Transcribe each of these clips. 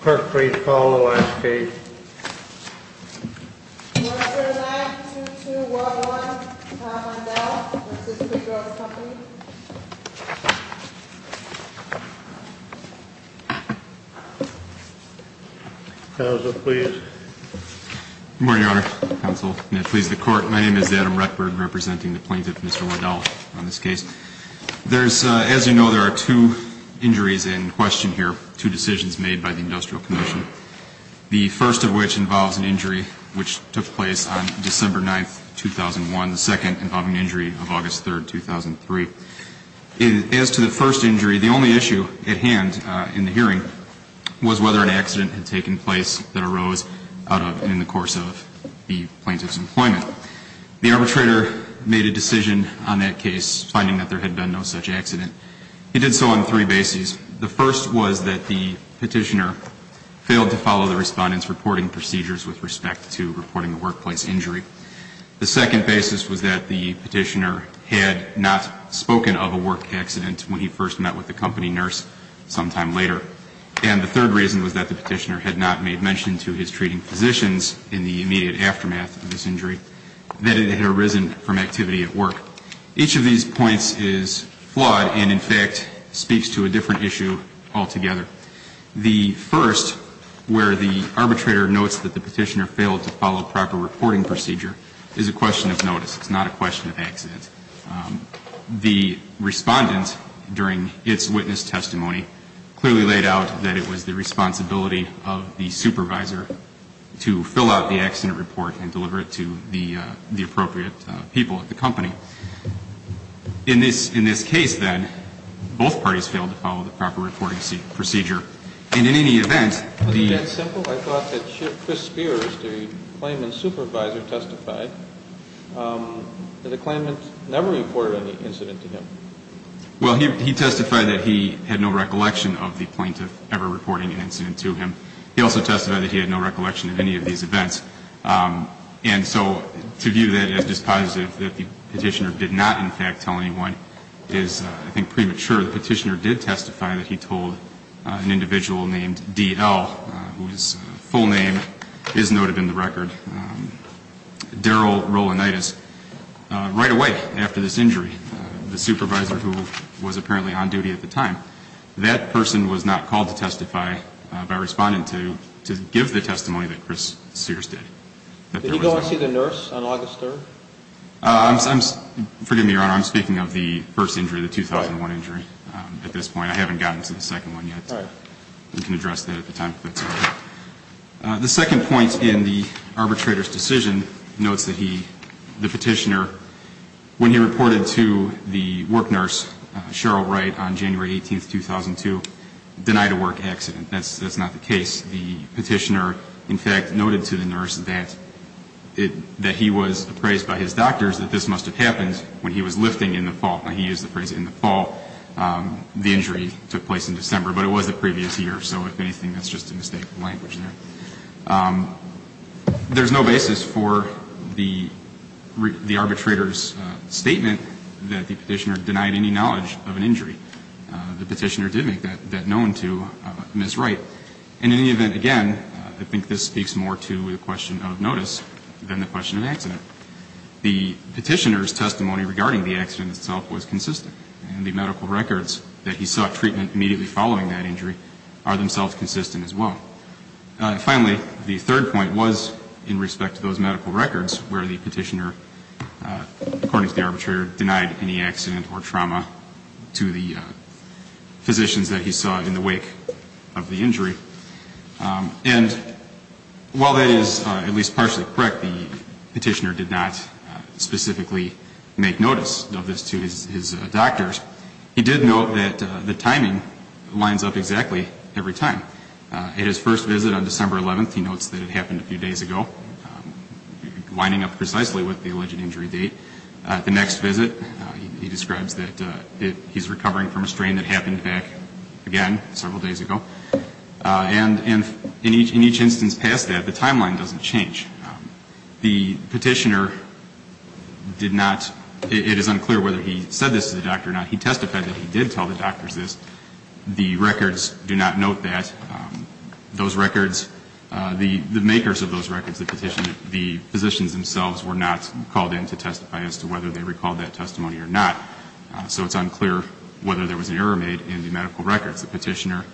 Clerk, please call the last page. Do you want to turn it back to 2-1-1, Tom Waddell, Assistant Director of the Company? Counsel, please. Good morning, Your Honor, Counsel, and please, the Court. My name is Adam Rettberg, representing the plaintiff, Mr. Waddell, on this case. As you know, there are two injuries in question here, two decisions made by the Industrial Commission, the first of which involves an injury which took place on December 9, 2001, the second involving an injury of August 3, 2003. As to the first injury, the only issue at hand in the hearing was whether an accident had taken place that arose in the course of the hearing and that there had been no such accident. It did so on three bases. The first was that the Petitioner failed to follow the Respondent's reporting procedures with respect to reporting the workplace injury. The second basis was that the Petitioner had not spoken of a work accident when he first met with the company nurse sometime later. And the third reason was that the Petitioner had not made mention to his treating physicians in the immediate aftermath of this injury that it was a work accident. The first is that the Petitioner's testimony is flawed and, in fact, speaks to a different issue altogether. The first, where the arbitrator notes that the Petitioner failed to follow proper reporting procedure, is a question of notice. It's not a question of accident. The Respondent, during its witness testimony, clearly laid out that it was the responsibility of the supervisor to fill out the accident report and, in this case, then, both parties failed to follow the proper reporting procedure. And, in any event, the ---- Was it that simple? I thought that Chris Spears, the Claimant's supervisor, testified that the Claimant never reported any incident to him. Well, he testified that he had no recollection of the Plaintiff ever reporting an incident to him. He also testified that he had no recollection of any of these events. And so to view that as dispositive, that the Petitioner did not, in fact, tell anyone, is, I think, premature. The Petitioner did testify that he told an individual named D.L., whose full name is noted in the record, Darryl Rolanditis, right away after this injury, the supervisor who was apparently on duty at the time. That person was not called to testify by Respondent to give the testimony that Chris Spears did. Did he go and see the nurse on August 3rd? Forgive me, Your Honor, I'm speaking of the first injury, the 2001 injury at this point. I haven't gotten to the second one yet. We can address that at the time if that's okay. The second point in the arbitrator's decision notes that the Petitioner, when he reported to the work nurse, Cheryl Wright, on January 18th, 2002, denied a work accident. That's not the case. The Petitioner, in fact, noted to the nurse that he was appraised by his doctors that this must have happened when he was lifting in the fall. Now, he used the phrase in the fall. The injury took place in December, but it was the previous year. So if anything, that's just a mistake of language there. There's no basis for the arbitrator's statement that the Petitioner denied any knowledge of an injury. The Petitioner did make that known to Ms. Wright. And in any event, again, I think this speaks more to the question of notice than the question of accident. The Petitioner's testimony regarding the accident itself was consistent. And the medical records that he sought treatment immediately following that injury are themselves consistent as well. Finally, the third point was in respect to those medical records where the Petitioner, according to the arbitrator, denied any accident or trauma to the physicians that he saw in the wake of the injury. And while that is at least partially correct, the Petitioner did not specifically make notice of this to his doctors. He did note that the timing lines up exactly every time. At his first visit on December 11th, he notes that it happened a few days ago, lining up precisely with the alleged injury date. At the next visit, he describes that he's recovering from a strain that happened back, again, several days ago. And in each instance past that, the timeline doesn't change. The Petitioner did not, it is unclear whether he said this to the doctor or not. He testified that he did tell the doctors this. The records do not note that. Those records, the makers of those records, the Petitioner, the physicians themselves were not called in to testify as to whether they recalled that testimony or not. So it's unclear whether there was an error made in the medical records. The Petitioner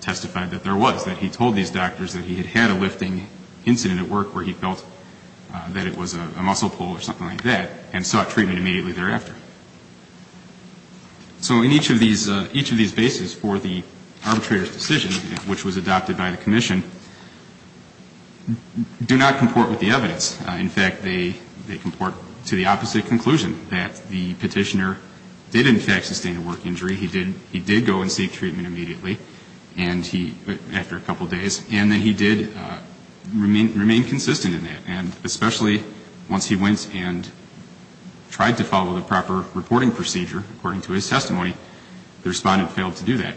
testified that there was, that he told these doctors that he had had a lifting incident at work where he felt that it was a muscle pull or something like that and sought treatment immediately thereafter. So in each of these, each of these bases for the arbitrator's decision, which was adopted by the Commission, do not comport with the evidence. In fact, they comport to the opposite conclusion, that the Petitioner did, in fact, sustain a work injury. He did go and seek treatment immediately and he, after a couple days. And that he did remain consistent in that. And especially once he went and tried to follow the proper reporting procedure, according to his testimony, the Respondent failed to do that.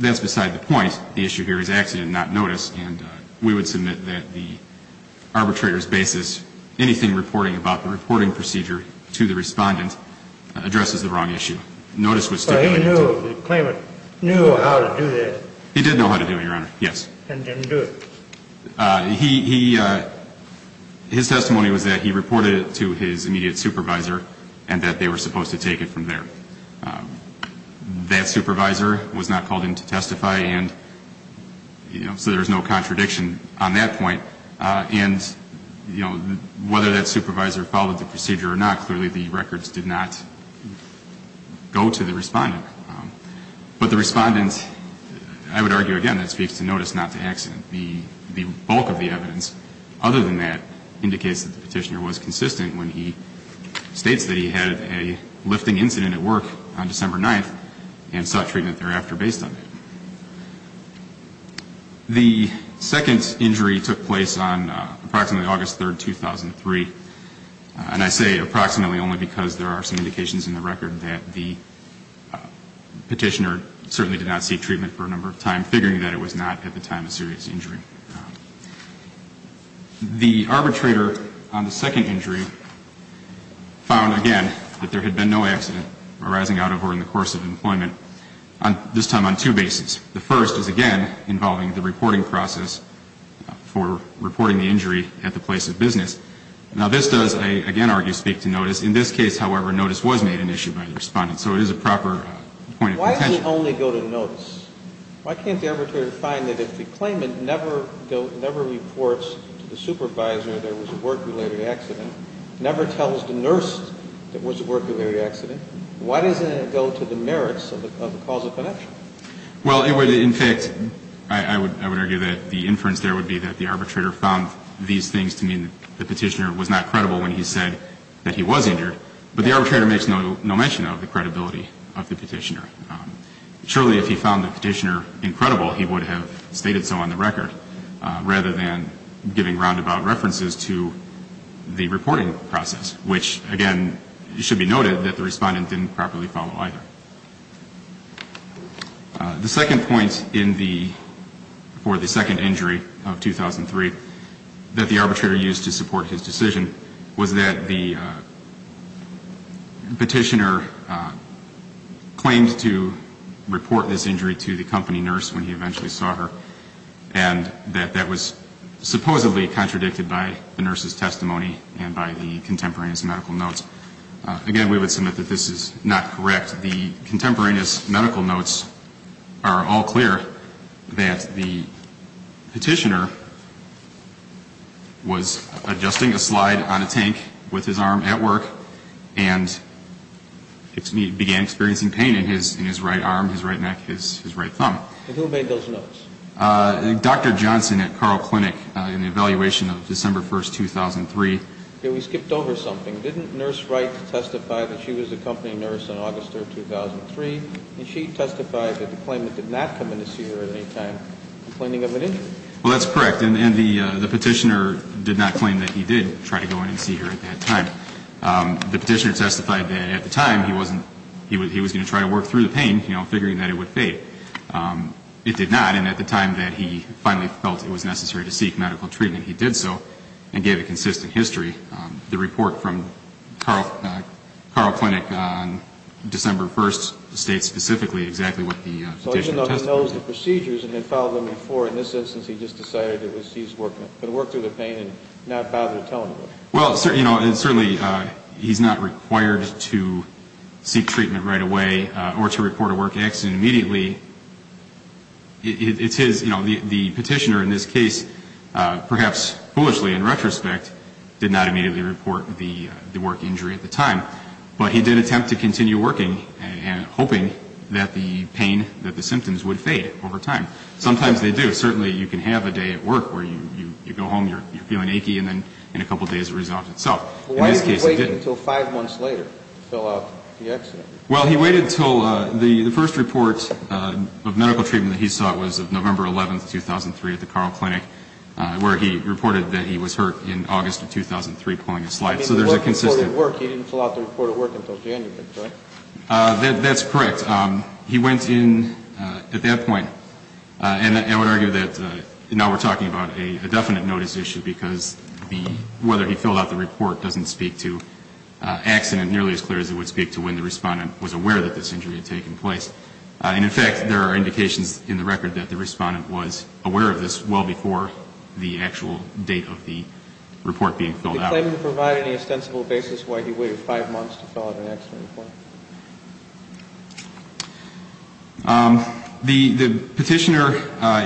That's beside the point. The issue here is accident, not notice. And we would submit that the arbitrator's basis, anything reporting about the reporting procedure to the Respondent, addresses the wrong issue. Notice was stipulated. So he knew, the claimant knew how to do that. He did know how to do it, Your Honor, yes. And didn't do it. He, his testimony was that he reported it to his immediate supervisor and that they were supposed to take it from there. That supervisor was not called in to testify and, you know, so there's no contradiction on that point. And, you know, whether that supervisor followed the procedure or not, clearly the records did not go to the Respondent. But the Respondent, I would argue, again, that speaks to notice, not to accident. The bulk of the evidence, other than that, indicates that the Petitioner was consistent when he states that he had a lifting incident at work on December 9th and sought treatment thereafter based on it. The second injury took place on approximately August 3rd, 2003. And I say approximately only because there are some indications in the record that the Petitioner certainly did not seek treatment for a number of times, figuring that it was not at the time a serious injury. The arbitrator on the second injury found, again, that there had been no accident arising out of or in the course of employment, this time on two bases. The first is, again, involving the reporting process for reporting the injury at the place of business. Now, this does, I again argue, speak to notice. In this case, however, notice was made an issue by the Respondent. So it is a proper point of contention. Why does it only go to notice? Why can't the arbitrator find that if the claimant never reports to the supervisor there was a work-related accident, never tells the nurse there was a work-related accident, why doesn't it go to the merits of the cause of connection? Well, it would, in fact, I would argue that the inference there would be that the arbitrator found these things to mean the Petitioner was not credible when he said that he was injured. But the arbitrator makes no mention of the credibility of the Petitioner. Surely, if he found the Petitioner incredible, he would have stated so on the record, rather than giving roundabout references to the reporting process, which, again, should be noted that the Respondent didn't properly follow either. The second point for the second injury of 2003 that the arbitrator used to support his decision was that the Petitioner claimed to report this injury to the company nurse when he eventually saw her, and that that was supposedly contradicted by the nurse's testimony and by the contemporaneous medical notes. Again, we would submit that this is not correct. The contemporaneous medical notes are all clear that the Petitioner was adjusting a slide on a tank with his arm at work and began experiencing pain in his right arm, his right neck, his right thumb. And who made those notes? Dr. Johnson at Carle Clinic in the evaluation of December 1, 2003. We skipped over something. Didn't Nurse Wright testify that she was the company nurse in August of 2003? And she testified that the claimant did not come in to see her at any time complaining of an injury. Well, that's correct. And the Petitioner did not claim that he did try to go in and see her at that time. The Petitioner testified that at the time he wasn't he was going to try to work through the pain, you know, figuring that it would fade. It did not. And at the time that he finally felt it was necessary to seek medical treatment, he did so and gave a consistent history. The report from Carle Clinic on December 1st states specifically exactly what the Petitioner testified. So even though he knows the procedures and had followed them before, in this instance, he just decided that he was going to work through the pain and not bother telling her? Well, you know, certainly he's not required to seek treatment right away or to report a work accident immediately. It's his, you know, the Petitioner in this case, perhaps foolishly in retrospect, did not immediately report the work injury at the time. But he did attempt to continue working and hoping that the pain, that the symptoms would fade over time. Sometimes they do. Certainly you can have a day at work where you go home, you're feeling achy, and then in a couple days it resolves itself. Why did he wait until five months later to fill out the exit? Well, he waited until the first report of medical treatment that he sought was of November 11th, 2003, at the Carle Clinic, where he reported that he was hurt in August of 2003, pulling a slide. So there's a consistent. He didn't fill out the report of work until January, correct? That's correct. He went in at that point, and I would argue that now we're talking about a definite notice issue because whether he filled out the report doesn't speak to accident nearly as clear as it would speak to when the Respondent was aware that this injury had taken place. And, in fact, there are indications in the record that the Respondent was aware of this well before the actual date of the report being filled out. Did he claim to provide any ostensible basis why he waited five months to fill out an accident report? The Petitioner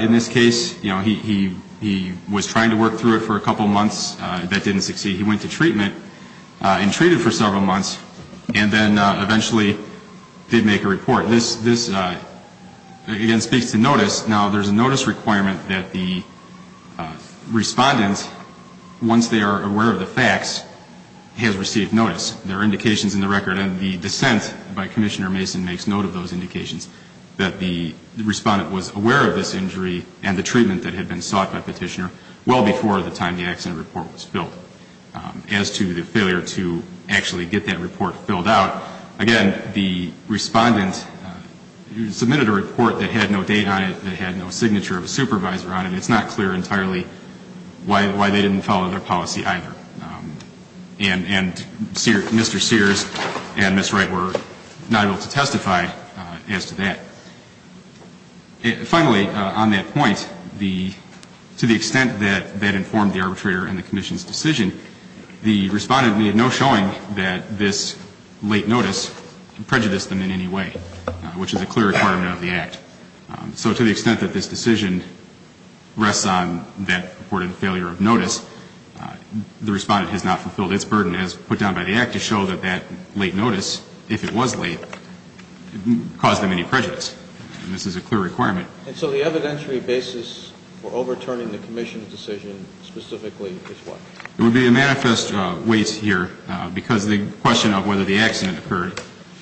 in this case, you know, he was trying to work through it for a couple months. That didn't succeed. He went to treatment and treated for several months and then eventually did make a report. This, again, speaks to notice. Now, there's a notice requirement that the Respondent, once they are aware of the facts, has received notice. There are indications in the record, and the dissent by Commissioner Mason makes note of those indications, that the Respondent was aware of this injury and the treatment that had been sought by Petitioner well before the time the accident report was filled. As to the failure to actually get that report filled out, again, the Respondent submitted a report that had no date on it, that had no signature of a supervisor on it. It's not clear entirely why they didn't follow their policy either. And Mr. Sears and Ms. Wright were not able to testify as to that. Finally, on that point, to the extent that that informed the Arbitrator and the Commission's decision, the Respondent made no showing that this late notice prejudiced them in any way, which is a clear requirement of the Act. So to the extent that this decision rests on that reported failure of notice, the Respondent has not fulfilled its burden, as put down by the Act, to show that that late notice, if it was late, caused them any prejudice. And this is a clear requirement. And so the evidentiary basis for overturning the Commission's decision specifically is what? It would be a manifest wait here, because the question of whether the accident occurred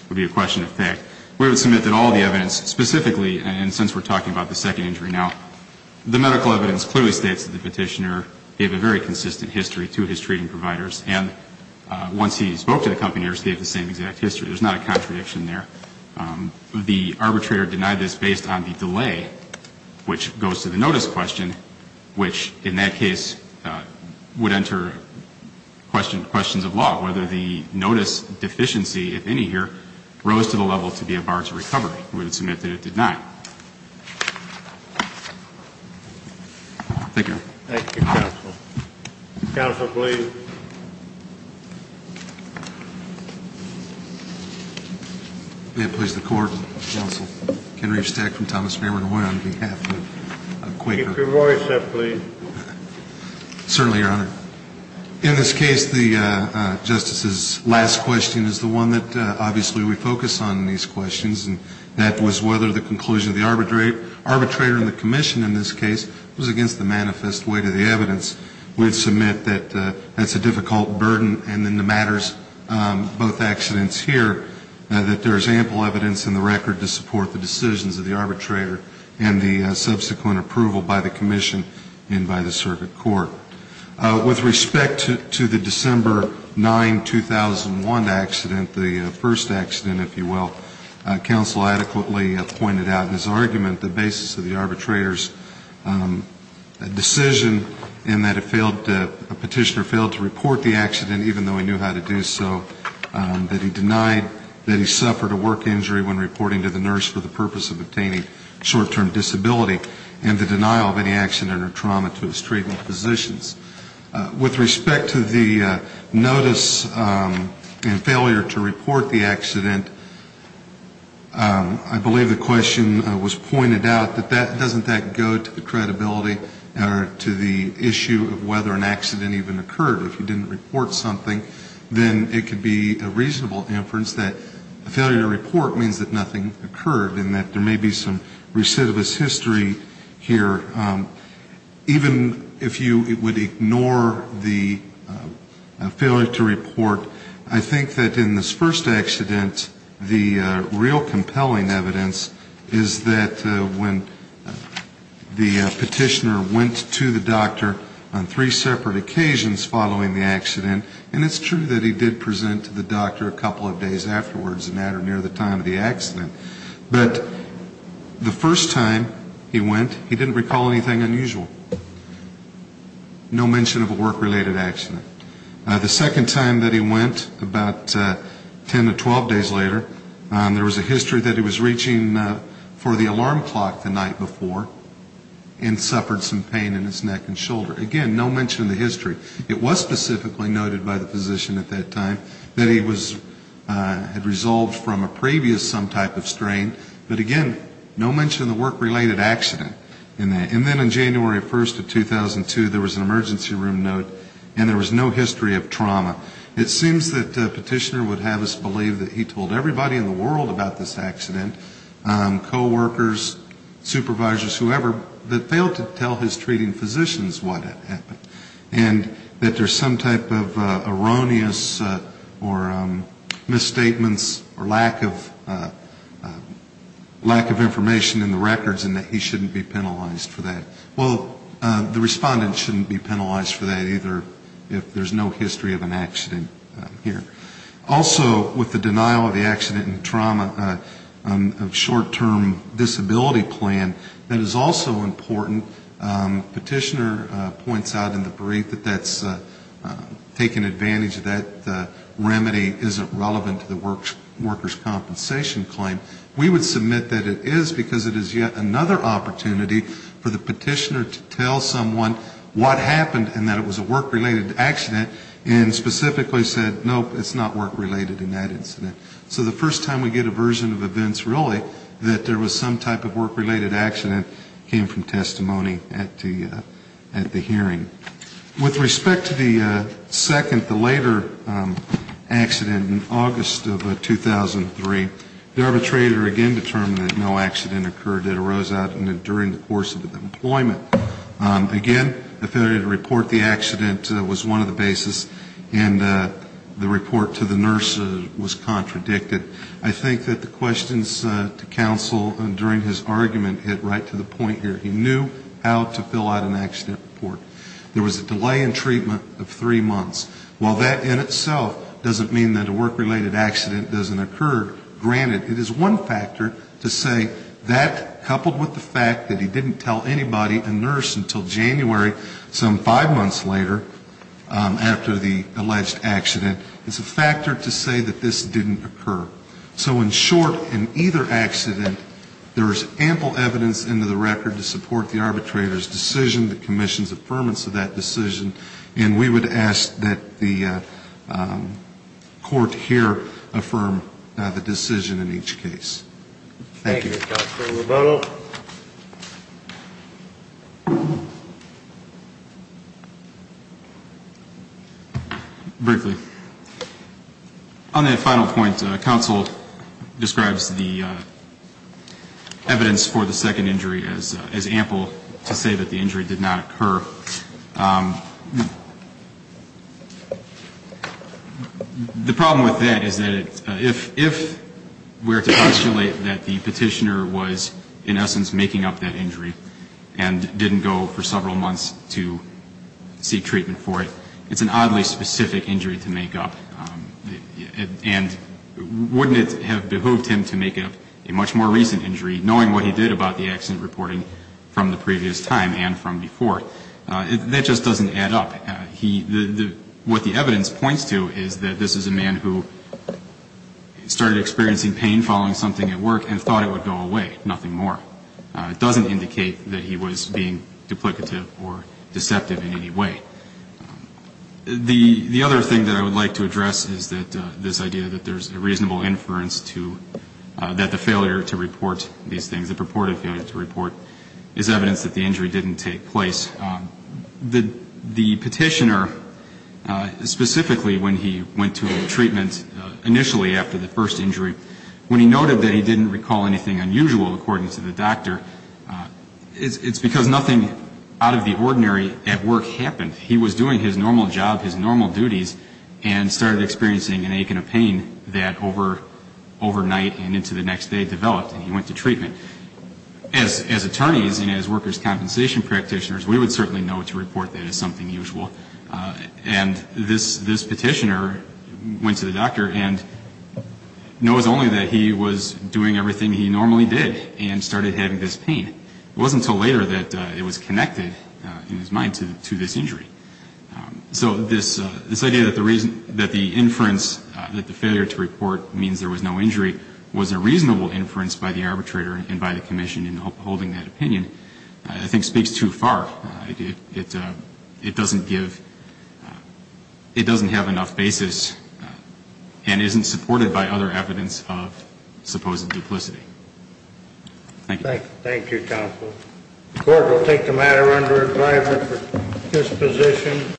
would be a question of fact. We would submit that all the evidence specifically, and since we're talking about the second injury now, the medical evidence clearly states that the Petitioner gave a very consistent history to his treating providers. And once he spoke to the company, they gave the same exact history. There's not a contradiction there. The Arbitrator denied this based on the delay, which goes to the notice question, which in that case would enter questions of law, whether the notice deficiency, if any here, rose to the level to be a barge of recovery. We would submit that it did not. Thank you, Your Honor. Thank you, Counsel. Counsel, please. May it please the Court, Counsel Ken Riefstack from Thomas-Farmer and Hoy on behalf of Quaker. Keep your voice up, please. Certainly, Your Honor. In this case, the Justice's last question is the one that obviously we focus on in these questions, and that was whether the conclusion of the Arbitrator and the Commission in this case was against the manifest wait of the evidence. We would submit that that's a difficult burden, and in the matters, both accidents here, that there is ample evidence in the record to support the decisions of the Arbitrator and the subsequent approval by the Commission and by the circuit court. With respect to the December 9, 2001 accident, the first accident, if you will, Counsel adequately pointed out in his argument the basis of the Arbitrator's decision in that it failed, a petitioner failed to report the accident, even though he knew how to do so, that he denied that he suffered a work injury when reporting to the nurse for the purpose of obtaining short-term disability and the denial of any accident or trauma to his treatment physicians. With respect to the notice and failure to report the accident, I believe the question was pointed out that doesn't that go to the credibility or to the issue of whether an accident even occurred. If you didn't report something, then it could be a reasonable inference that a failure to report means that something occurred and that there may be some recidivist history here. Even if you would ignore the failure to report, I think that in this first accident, the real compelling evidence is that when the petitioner went to the doctor on three separate occasions following the accident, and it's true that he did present to the doctor a couple of days afterwards, as a matter near the time of the accident, but the first time he went, he didn't recall anything unusual. No mention of a work-related accident. The second time that he went, about 10 to 12 days later, there was a history that he was reaching for the alarm clock the night before and suffered some pain in his neck and shoulder. Again, no mention of the history. It was specifically noted by the physician at that time that he had resolved from a previous some type of strain. But again, no mention of the work-related accident. And then on January 1st of 2002, there was an emergency room note and there was no history of trauma. It seems that the petitioner would have us believe that he told everybody in the world about this accident, coworkers, supervisors, whoever, that failed to tell his treating physicians what had happened. And that there's some type of erroneous or misstatements or lack of information in the records and that he shouldn't be penalized for that. Well, the respondent shouldn't be penalized for that either if there's no history of an accident here. Also, with the denial of the accident and trauma of short-term disability plan, that is also important. Petitioner points out in the brief that that's taken advantage of that remedy isn't relevant to the worker's compensation claim. We would submit that it is because it is yet another opportunity for the petitioner to tell someone what happened and that it was a work-related accident and specifically said, nope, it's not work-related in that incident. So the first time we get a version of events, really, that there was some type of work-related accident came from testimony at the hearing. With respect to the second, the later accident in August of 2003, the arbitrator again determined that no accident occurred that arose out during the course of the employment. Again, the failure to report the accident was one of the basis, and the report to the nurse was contradicted. I think that the questions to counsel during his argument hit right to the point here. He knew how to fill out an accident report. There was a delay in treatment of three months. While that in itself doesn't mean that a work-related accident doesn't occur, granted, it is one factor to say that coupled with the fact that he didn't tell anybody or the nurse until January, some five months later, after the alleged accident, it's a factor to say that this didn't occur. So in short, in either accident, there is ample evidence into the record to support the arbitrator's decision that commissions affirmance of that decision, and we would ask that the court here affirm the decision in each case. Thank you. Brinkley. On that final point, counsel describes the evidence for the second injury as ample to say that the injury did not occur. The problem with that is that if we were to postulate that the petitioner was in essence making up that injury and didn't go for several months to seek treatment for it, it's an oddly specific injury to make up. And wouldn't it have behooved him to make up a much more recent injury, knowing what he did about the accident reporting from the previous time and from before? That just doesn't add up. What the evidence points to is that this is a man who started experiencing pain following something at work and thought it would go away, nothing more. It doesn't indicate that he was being duplicative or deceptive in any way. The other thing that I would like to address is that this idea that there's a reasonable inference to that the failure to report these things, the purported failure to report, is evidence that the injury didn't take place. The petitioner, specifically when he went to treatment initially after the first injury, when he noted that he didn't recall anything unusual, according to the doctor, it's because nothing out of the ordinary at work happened. He was doing his normal job, his normal duties, and started experiencing an ache and a pain that overnight and into the next day developed, and he went to treatment. As attorneys and as workers' compensation practitioners, we would certainly know to report that as something usual. And this petitioner went to the doctor and knows only that he was doing everything he normally did and started having this pain. It wasn't until later that it was connected, in his mind, to this injury. So this idea that the inference that the failure to report means there was no injury was a reasonable inference by the arbitrator. And by the commission in upholding that opinion, I think speaks too far. It doesn't give ñ it doesn't have enough basis and isn't supported by other evidence of supposed duplicity. Thank you. Thank you, counsel.